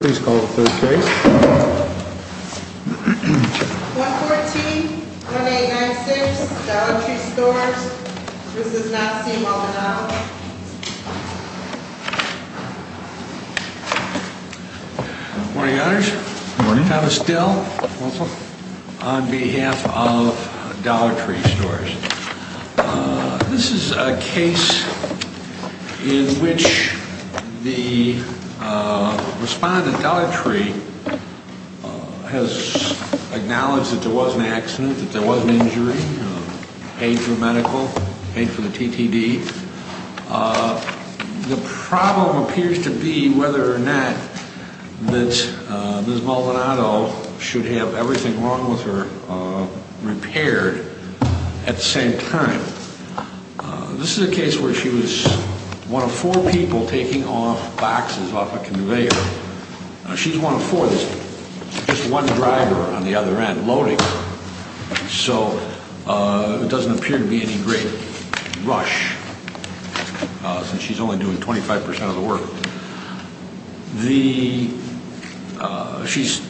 Please call the third case. 114-1896, Dollar Tree Stores. This does not seem well-denialed. Good morning, Your Honors. Thomas Dill on behalf of Dollar Tree Stores. This is a case in which the respondent, Dollar Tree, has acknowledged that there was an accident, that there was an injury, paid for medical, paid for the TTD. The problem appears to be whether or not that Ms. Maldonado should have everything wrong with her repaired at the same time. This is a case where she was one of four people taking off boxes off a conveyor. She's one of four. There's just one driver on the other end loading, so it doesn't appear to be any great rush since she's only doing 25 percent of the work. She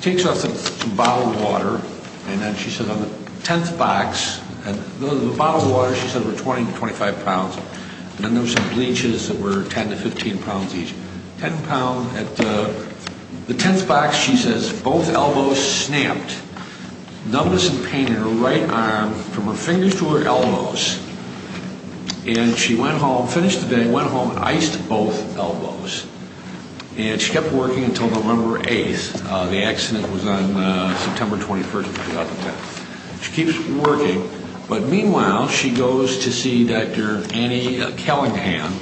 takes off some bottled water, and then she says on the 10th box, and the bottled water, she said, were 20 to 25 pounds, and then there were some bleaches that were 10 to 15 pounds each. 10 pounds. At the 10th box, she says, both elbows snapped, numbness and pain in her right arm from her fingers to her elbows, and she went home, finished the day, went home and iced both elbows. And she kept working until November 8th. The accident was on September 21st, 2010. She keeps working, but meanwhile, she goes to see Dr. Annie Callaghan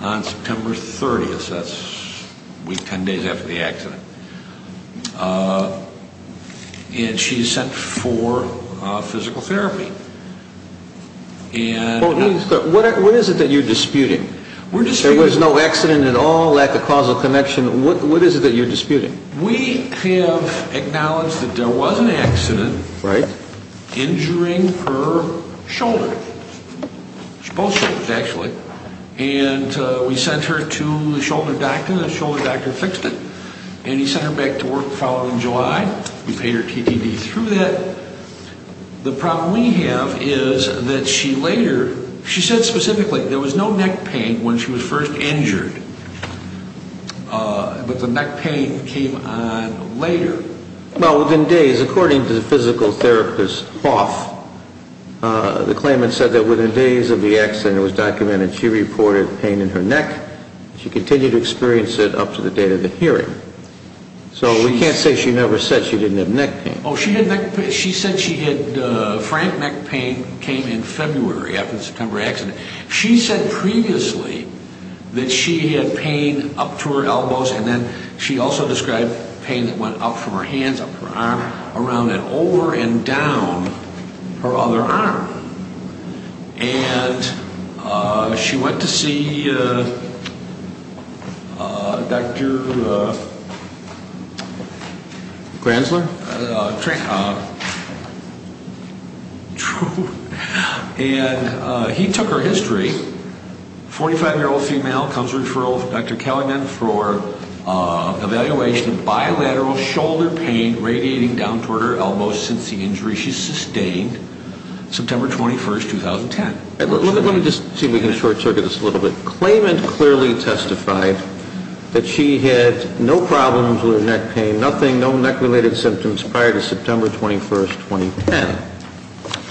on September 30th. That's a week, 10 days after the accident. And she's sent for physical therapy. What is it that you're disputing? There was no accident at all, lack of causal connection. What is it that you're disputing? We have acknowledged that there was an accident injuring her shoulder. Both shoulders, actually. And we sent her to the shoulder doctor, and the shoulder doctor fixed it. And he sent her back to work the following July. We paid her TTD through that. The problem we have is that she later, she said specifically, there was no neck pain when she was first injured, but the neck pain came on later. Well, within days, according to the physical therapist Hoff, the claimant said that within days of the accident, it was documented she reported pain in her neck. She continued to experience it up to the date of the hearing. So we can't say she never said she didn't have neck pain. Oh, she said she had, frank neck pain came in February after the September accident. She said previously that she had pain up to her elbows, and then she also described pain that went up from her hands, up her arm, around and over and down her other arm. And she went to see Dr. Gransler. And he took her history. A 45-year-old female comes to Dr. Kellerman for evaluation of bilateral shoulder pain radiating down toward her elbows since the injury. She sustained September 21, 2010. Let me just see if we can short-circuit this a little bit. Claimant clearly testified that she had no problems with her neck pain, nothing, no neck-related symptoms prior to September 21, 2010.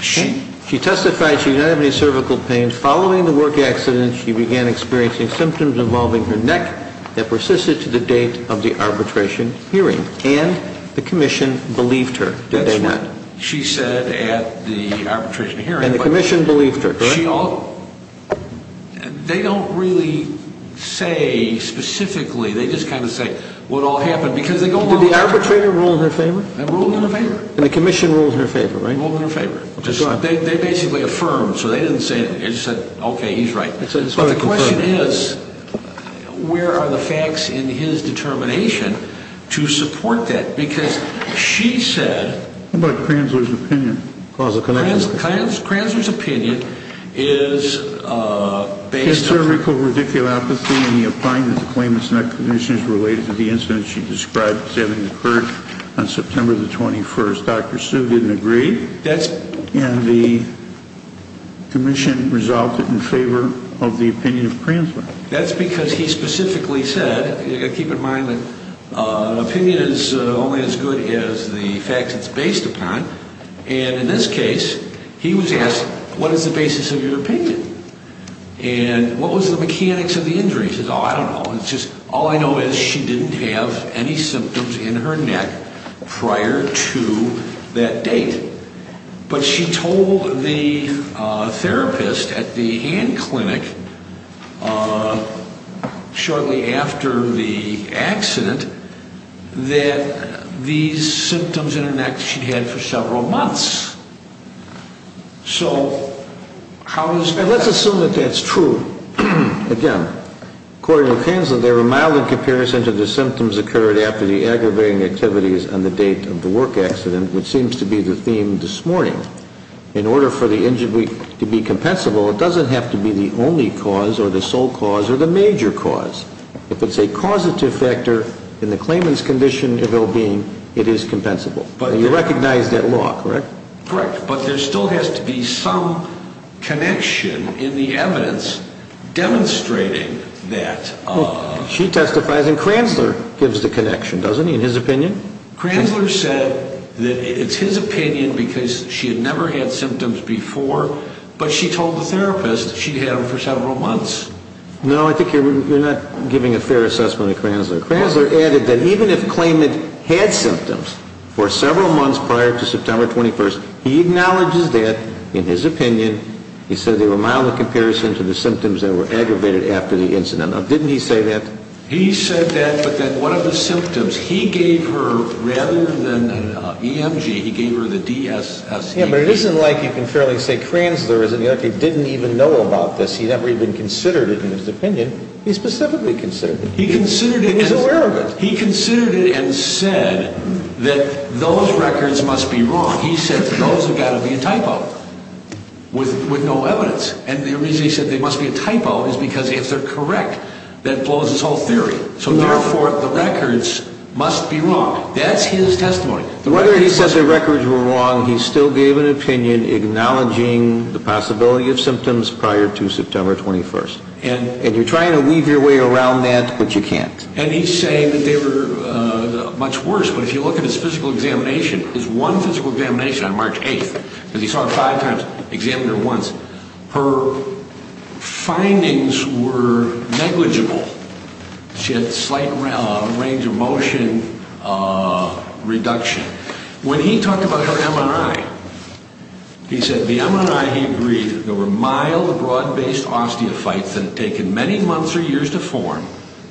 She testified she did not have any cervical pain. Following the work accident, she began experiencing symptoms involving her neck that persisted to the date of the arbitration hearing. And the commission believed her, did they not? She said at the arbitration hearing. And the commission believed her, correct? They don't really say specifically. They just kind of say what all happened. Did the arbitrator rule in her favor? They ruled in her favor. And the commission ruled in her favor, right? They ruled in her favor. They basically affirmed. So they didn't say anything. They just said, okay, he's right. But the question is, where are the facts in his determination to support that? Because she said. What about Kranzler's opinion? Kranzler's opinion is based on. His cervical radiculopathy and the opinion that the claimant's neck condition is related to the incident she described as having occurred on September 21. Dr. Sue didn't agree. That's. And the commission resulted in favor of the opinion of Kranzler. That's because he specifically said, keep in mind that an opinion is only as good as the facts it's based upon. And in this case, he was asked, what is the basis of your opinion? And what was the mechanics of the injury? She said, oh, I don't know. It's just all I know is she didn't have any symptoms in her neck prior to that date. But she told the therapist at the Ann Clinic shortly after the accident that these symptoms in her neck she'd had for several months. So how is that? Let's assume that that's true. Again, according to Kranzler, they were mild in comparison to the symptoms occurred after the aggravating activities on the date of the work accident, which seems to be the theme this morning. In order for the injury to be compensable, it doesn't have to be the only cause or the sole cause or the major cause. If it's a causative factor in the claimant's condition of ill-being, it is compensable. And you recognize that law, correct? Correct. But there still has to be some connection in the evidence demonstrating that. She testifies, and Kranzler gives the connection, doesn't he, in his opinion? Kranzler said that it's his opinion because she had never had symptoms before, but she told the therapist she'd had them for several months. No, I think you're not giving a fair assessment of Kranzler. Kranzler added that even if the claimant had symptoms for several months prior to September 21st, he acknowledges that in his opinion. He said they were mild in comparison to the symptoms that were aggravated after the incident. Now, didn't he say that? He said that, but that one of the symptoms he gave her, rather than an EMG, he gave her the DSS. Yeah, but it isn't like you can fairly say Kranzler didn't even know about this. He never even considered it in his opinion. He specifically considered it. He considered it. He's aware of it. He considered it and said that those records must be wrong. He said those have got to be a typo with no evidence. And the reason he said they must be a typo is because if they're correct, that blows his whole theory. So, therefore, the records must be wrong. That's his testimony. Whether he says the records were wrong, he still gave an opinion acknowledging the possibility of symptoms prior to September 21st. And you're trying to weave your way around that, but you can't. And he's saying that they were much worse, but if you look at his physical examination, his one physical examination on March 8th, because he saw her five times, examined her once, her findings were negligible. She had a slight range of motion reduction. When he talked about her MRI, he said the MRI, he agreed, there were mild broad-based osteophytes that had taken many months or years to form,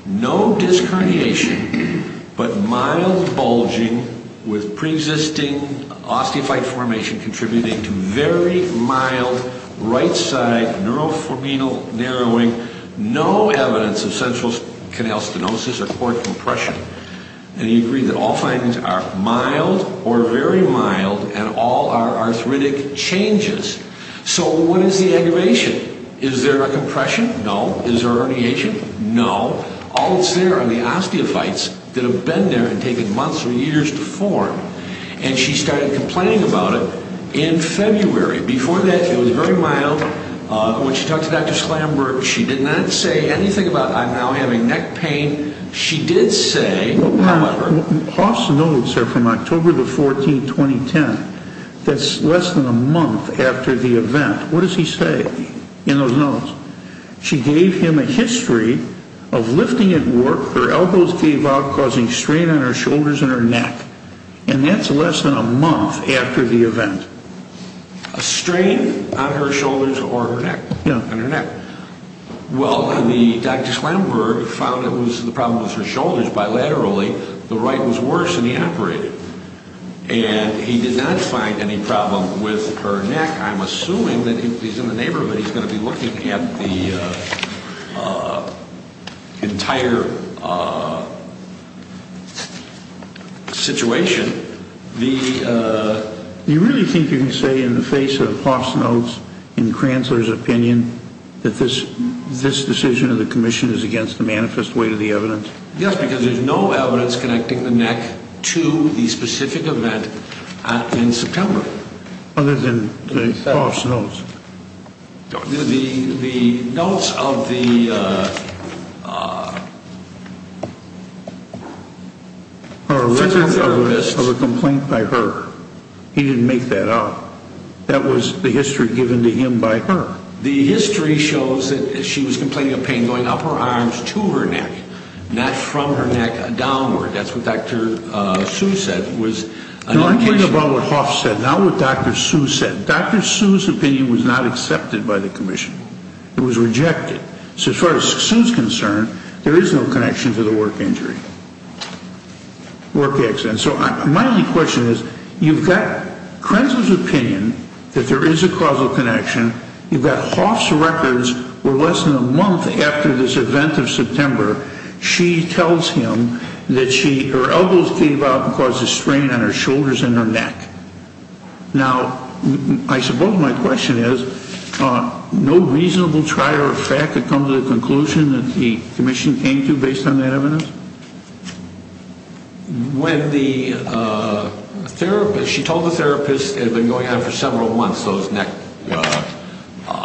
no disc herniation, but mild bulging with preexisting osteophyte formation contributing to very mild right side neurofibrominal narrowing, no evidence of central canal stenosis or cord compression. And he agreed that all findings are mild or very mild and all are arthritic changes. So what is the aggravation? Is there a compression? No. Is there a herniation? No. All that's there are the osteophytes that have been there and taken months or years to form. And she started complaining about it in February. Before that, it was very mild. When she talked to Dr. Slamberg, she did not say anything about, I'm now having neck pain. She did say, however... Hoff's notes are from October the 14th, 2010. That's less than a month after the event. What does he say in those notes? She gave him a history of lifting at work, her elbows gave out, causing strain on her shoulders and her neck. And that's less than a month after the event. A strain on her shoulders or her neck? Yeah. On her neck. Well, Dr. Slamberg found it was the problem with her shoulders bilaterally. The right was worse and he operated. And he did not find any problem with her neck. I'm assuming that if he's in the neighborhood, he's going to be looking at the entire situation. Do you really think you can say in the face of Hoff's notes, in Kranzler's opinion, that this decision of the commission is against the manifest weight of the evidence? Yes, because there's no evidence connecting the neck to the specific event in September. Other than Hoff's notes. The notes of the... Of a complaint by her. He didn't make that up. That was the history given to him by her. The history shows that she was complaining of pain going up her arms to her neck, not from her neck downward. That's what Dr. Sue said. No, I'm talking about what Hoff said, not what Dr. Sue said. Dr. Sue's opinion was not accepted by the commission. It was rejected. So as far as Sue's concerned, there is no connection to the work injury, work accident. So my only question is, you've got Kranzler's opinion that there is a causal connection. You've got Hoff's records where less than a month after this event of September, she tells him that her elbows came out and caused a strain on her shoulders and her neck. Now, I suppose my question is, no reasonable trial or fact could come to the conclusion that the commission came to based on that evidence? When the therapist, she told the therapist it had been going on for several months, those neck...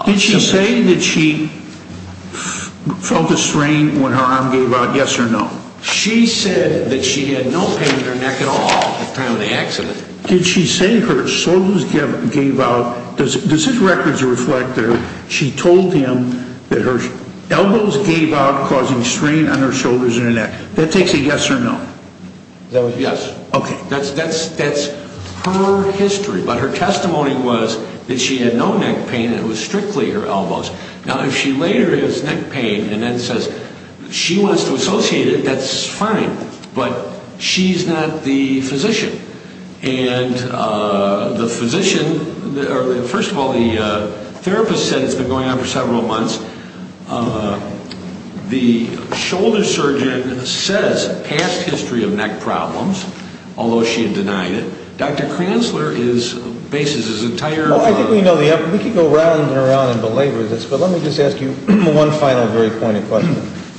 Did she say that she felt a strain when her arm gave out, yes or no? She said that she had no pain in her neck at all at the time of the accident. Did she say her shoulders gave out? Does his records reflect that she told him that her elbows gave out causing strain on her shoulders and her neck? That takes a yes or no. That was a yes. Okay. That's her history. But her testimony was that she had no neck pain and it was strictly her elbows. Now, if she later has neck pain and then says she wants to associate it, that's fine. But she's not the physician. And the physician... First of all, the therapist said it's been going on for several months. The shoulder surgeon says past history of neck problems, although she denied it. Dr. Kranzler bases his entire... Well, I think we know the evidence. We could go around and around and belabor this, but let me just ask you one final very pointed question.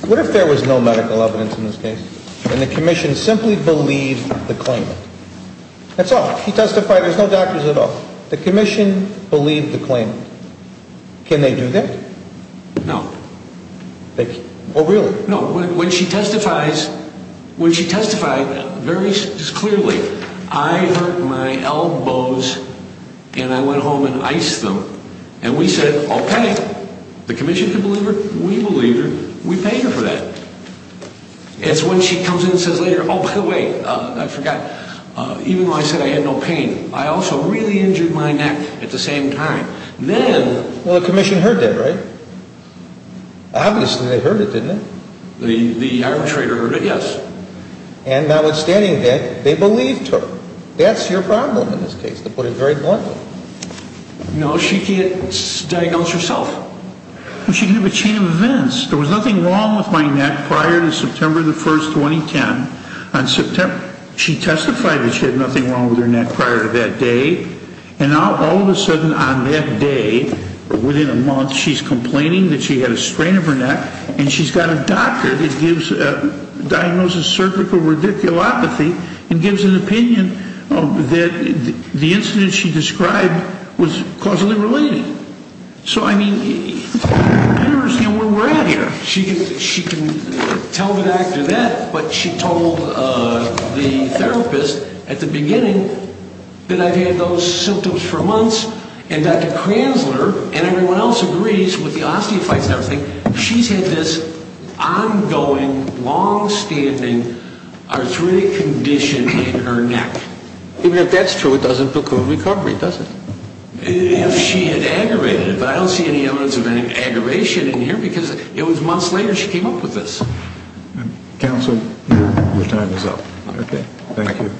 What if there was no medical evidence in this case and the commission simply believed the claimant? That's all. He testified there's no doctors at all. The commission believed the claimant. Can they do that? No. Oh, really? No. When she testified very clearly, I hurt my elbows and I went home and iced them. And we said, okay, the commission can believe her. We believe her. We pay her for that. It's when she comes in and says later, oh, by the way, I forgot. Even though I said I had no pain, I also really injured my neck at the same time. Well, the commission heard that, right? Obviously they heard it, didn't it? The arbitrator heard it, yes. And notwithstanding that, they believed her. That's your problem in this case, to put it very bluntly. No, she can't diagnose herself. She can have a chain of events. There was nothing wrong with my neck prior to September the 1st, 2010. She testified that she had nothing wrong with her neck prior to that day. And now all of a sudden on that day, within a month, she's complaining that she had a strain of her neck, and she's got a doctor that diagnoses cervical radiculopathy and gives an opinion that the incident she described was causally related. So, I mean, you understand where we're at here. She can tell that after that. But she told the therapist at the beginning that I've had those symptoms for months, and Dr. Kranzler and everyone else agrees with the osteophytes and everything, she's had this ongoing, longstanding arthritic condition in her neck. Even if that's true, it doesn't look good in recovery, does it? If she had aggravated it. But I don't see any evidence of any aggravation in here because it was months later she came up with this. Counsel, your time is up. Okay, thank you.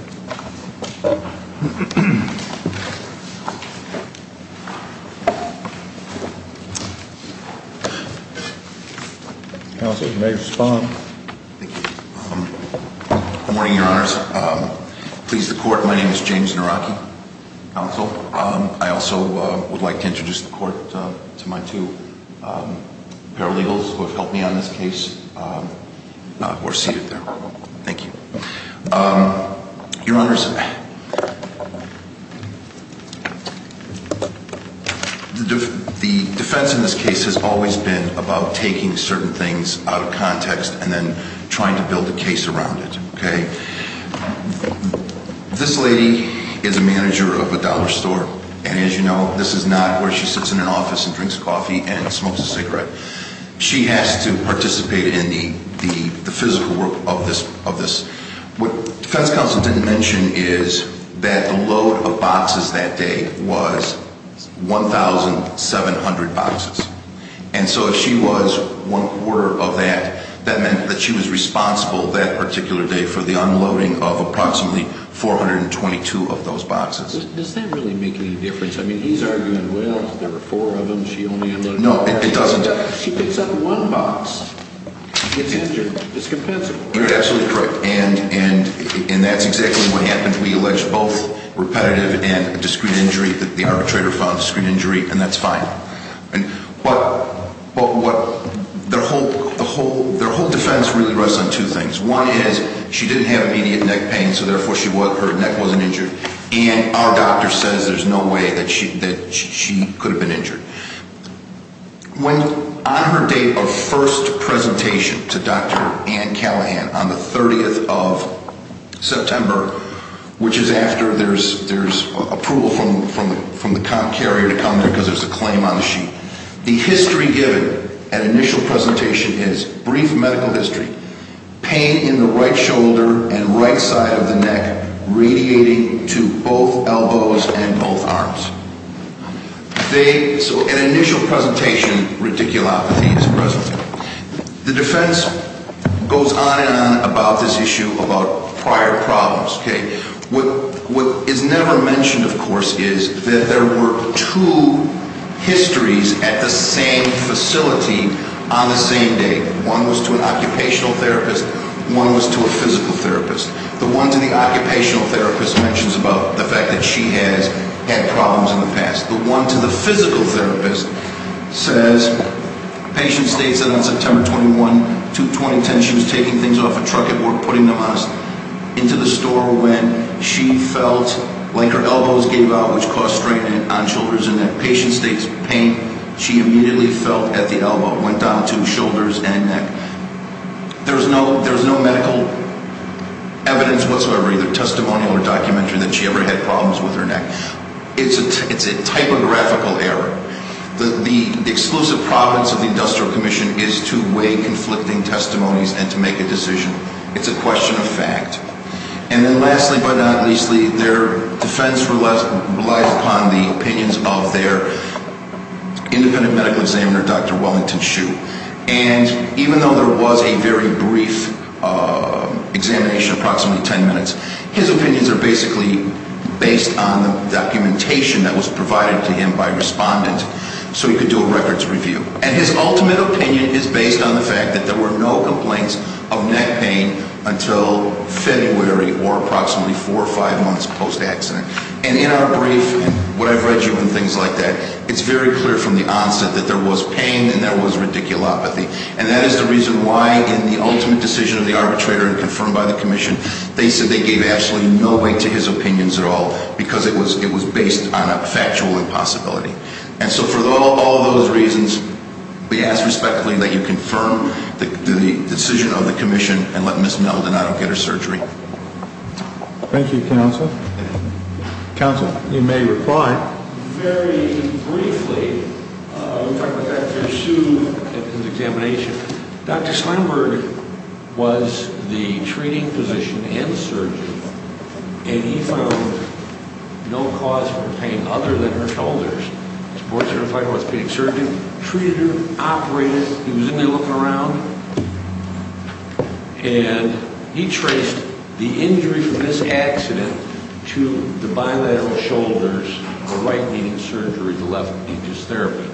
Counsel, you may respond. Thank you. Good morning, Your Honors. Please, the court, my name is James Naraki. Counsel, I also would like to introduce the court to my two paralegals who have helped me on this case, who are seated there. Thank you. Your Honors, the defense in this case has always been about taking certain things out of context and then trying to build a case around it, okay? This lady is a manager of a dollar store, and as you know, this is not where she sits in an office and drinks coffee and smokes a cigarette. She has to participate in the physical work of this. What defense counsel didn't mention is that the load of boxes that day was 1,700 boxes. And so if she was one-quarter of that, that meant that she was responsible that particular day for the unloading of approximately 422 of those boxes. Does that really make any difference? I mean, he's arguing, well, there were four of them, she only unloaded one. No, it doesn't. She picks up one box, gets injured, discompensable. You're absolutely correct, and that's exactly what happened. We alleged both repetitive and a discreet injury. The arbitrator found discreet injury, and that's fine. But their whole defense really rests on two things. One is she didn't have immediate neck pain, so therefore her neck wasn't injured. And our doctor says there's no way that she could have been injured. On her date of first presentation to Dr. Ann Callahan on the 30th of September, which is after there's approval from the carrier to come because there's a claim on the sheet, the history given at initial presentation is brief medical history, pain in the right shoulder and right side of the neck radiating to both elbows and both arms. So an initial presentation, radiculopathy is present. The defense goes on and on about this issue, about prior problems. What is never mentioned, of course, is that there were two histories at the same facility on the same day. One was to an occupational therapist, one was to a physical therapist. The one to the occupational therapist mentions about the fact that she has had problems in the past. The one to the physical therapist says patient states that on September 21, 2010, she was taking things off a truck at work, putting them on us, into the store when she felt like her elbows gave out, which caused strain on shoulders and neck. Patient states pain she immediately felt at the elbow went down to shoulders and neck. There's no medical evidence whatsoever, either testimonial or documentary, that she ever had problems with her neck. It's a typographical error. The exclusive province of the industrial commission is to weigh conflicting testimonies and to make a decision. It's a question of fact. And then lastly but not leastly, their defense relies upon the opinions of their independent medical examiner, Dr. Wellington Shue. And even though there was a very brief examination, approximately 10 minutes, his opinions are basically based on the documentation that was provided to him by respondents, so he could do a records review. And his ultimate opinion is based on the fact that there were no complaints of neck pain until February or approximately four or five months post-accident. And in our brief, what I've read you and things like that, it's very clear from the onset that there was pain and there was radiculopathy. And that is the reason why in the ultimate decision of the arbitrator and confirmed by the commission, they said they gave absolutely no weight to his opinions at all because it was based on a factual impossibility. And so for all those reasons, we ask respectfully that you confirm the decision of the commission and let Ms. Meldenado get her surgery. Thank you, Counsel. Counsel, you may reply. Very briefly, I'm going to talk about Dr. Shue and his examination. Dr. Steinberg was the treating physician and surgeon, and he found no cause for pain other than her shoulders. He was a board-certified orthopedic surgeon, treated her, operated her. He was in there looking around. And he traced the injury from this accident to the bilateral shoulders, the right needing surgery, the left needing therapy.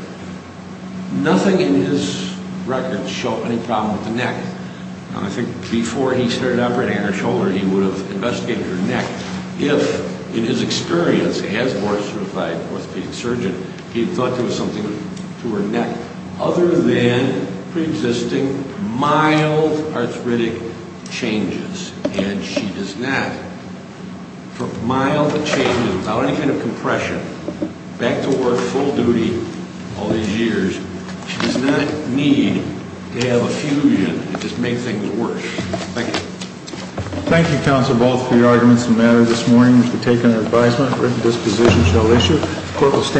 Nothing in his records showed any problem with the neck. I think before he started operating her shoulder, he would have investigated her neck. If, in his experience as a board-certified orthopedic surgeon, he thought there was something to her neck other than preexisting mild arthritic changes. And she does not, for mild changes, without any kind of compression, back to work full duty all these years, she does not need to have a fusion to just make things worse. Thank you. Thank you, Counsel, both for your arguments and matter this morning. We've taken your advisement. Written disposition shall issue. Court is adjourned.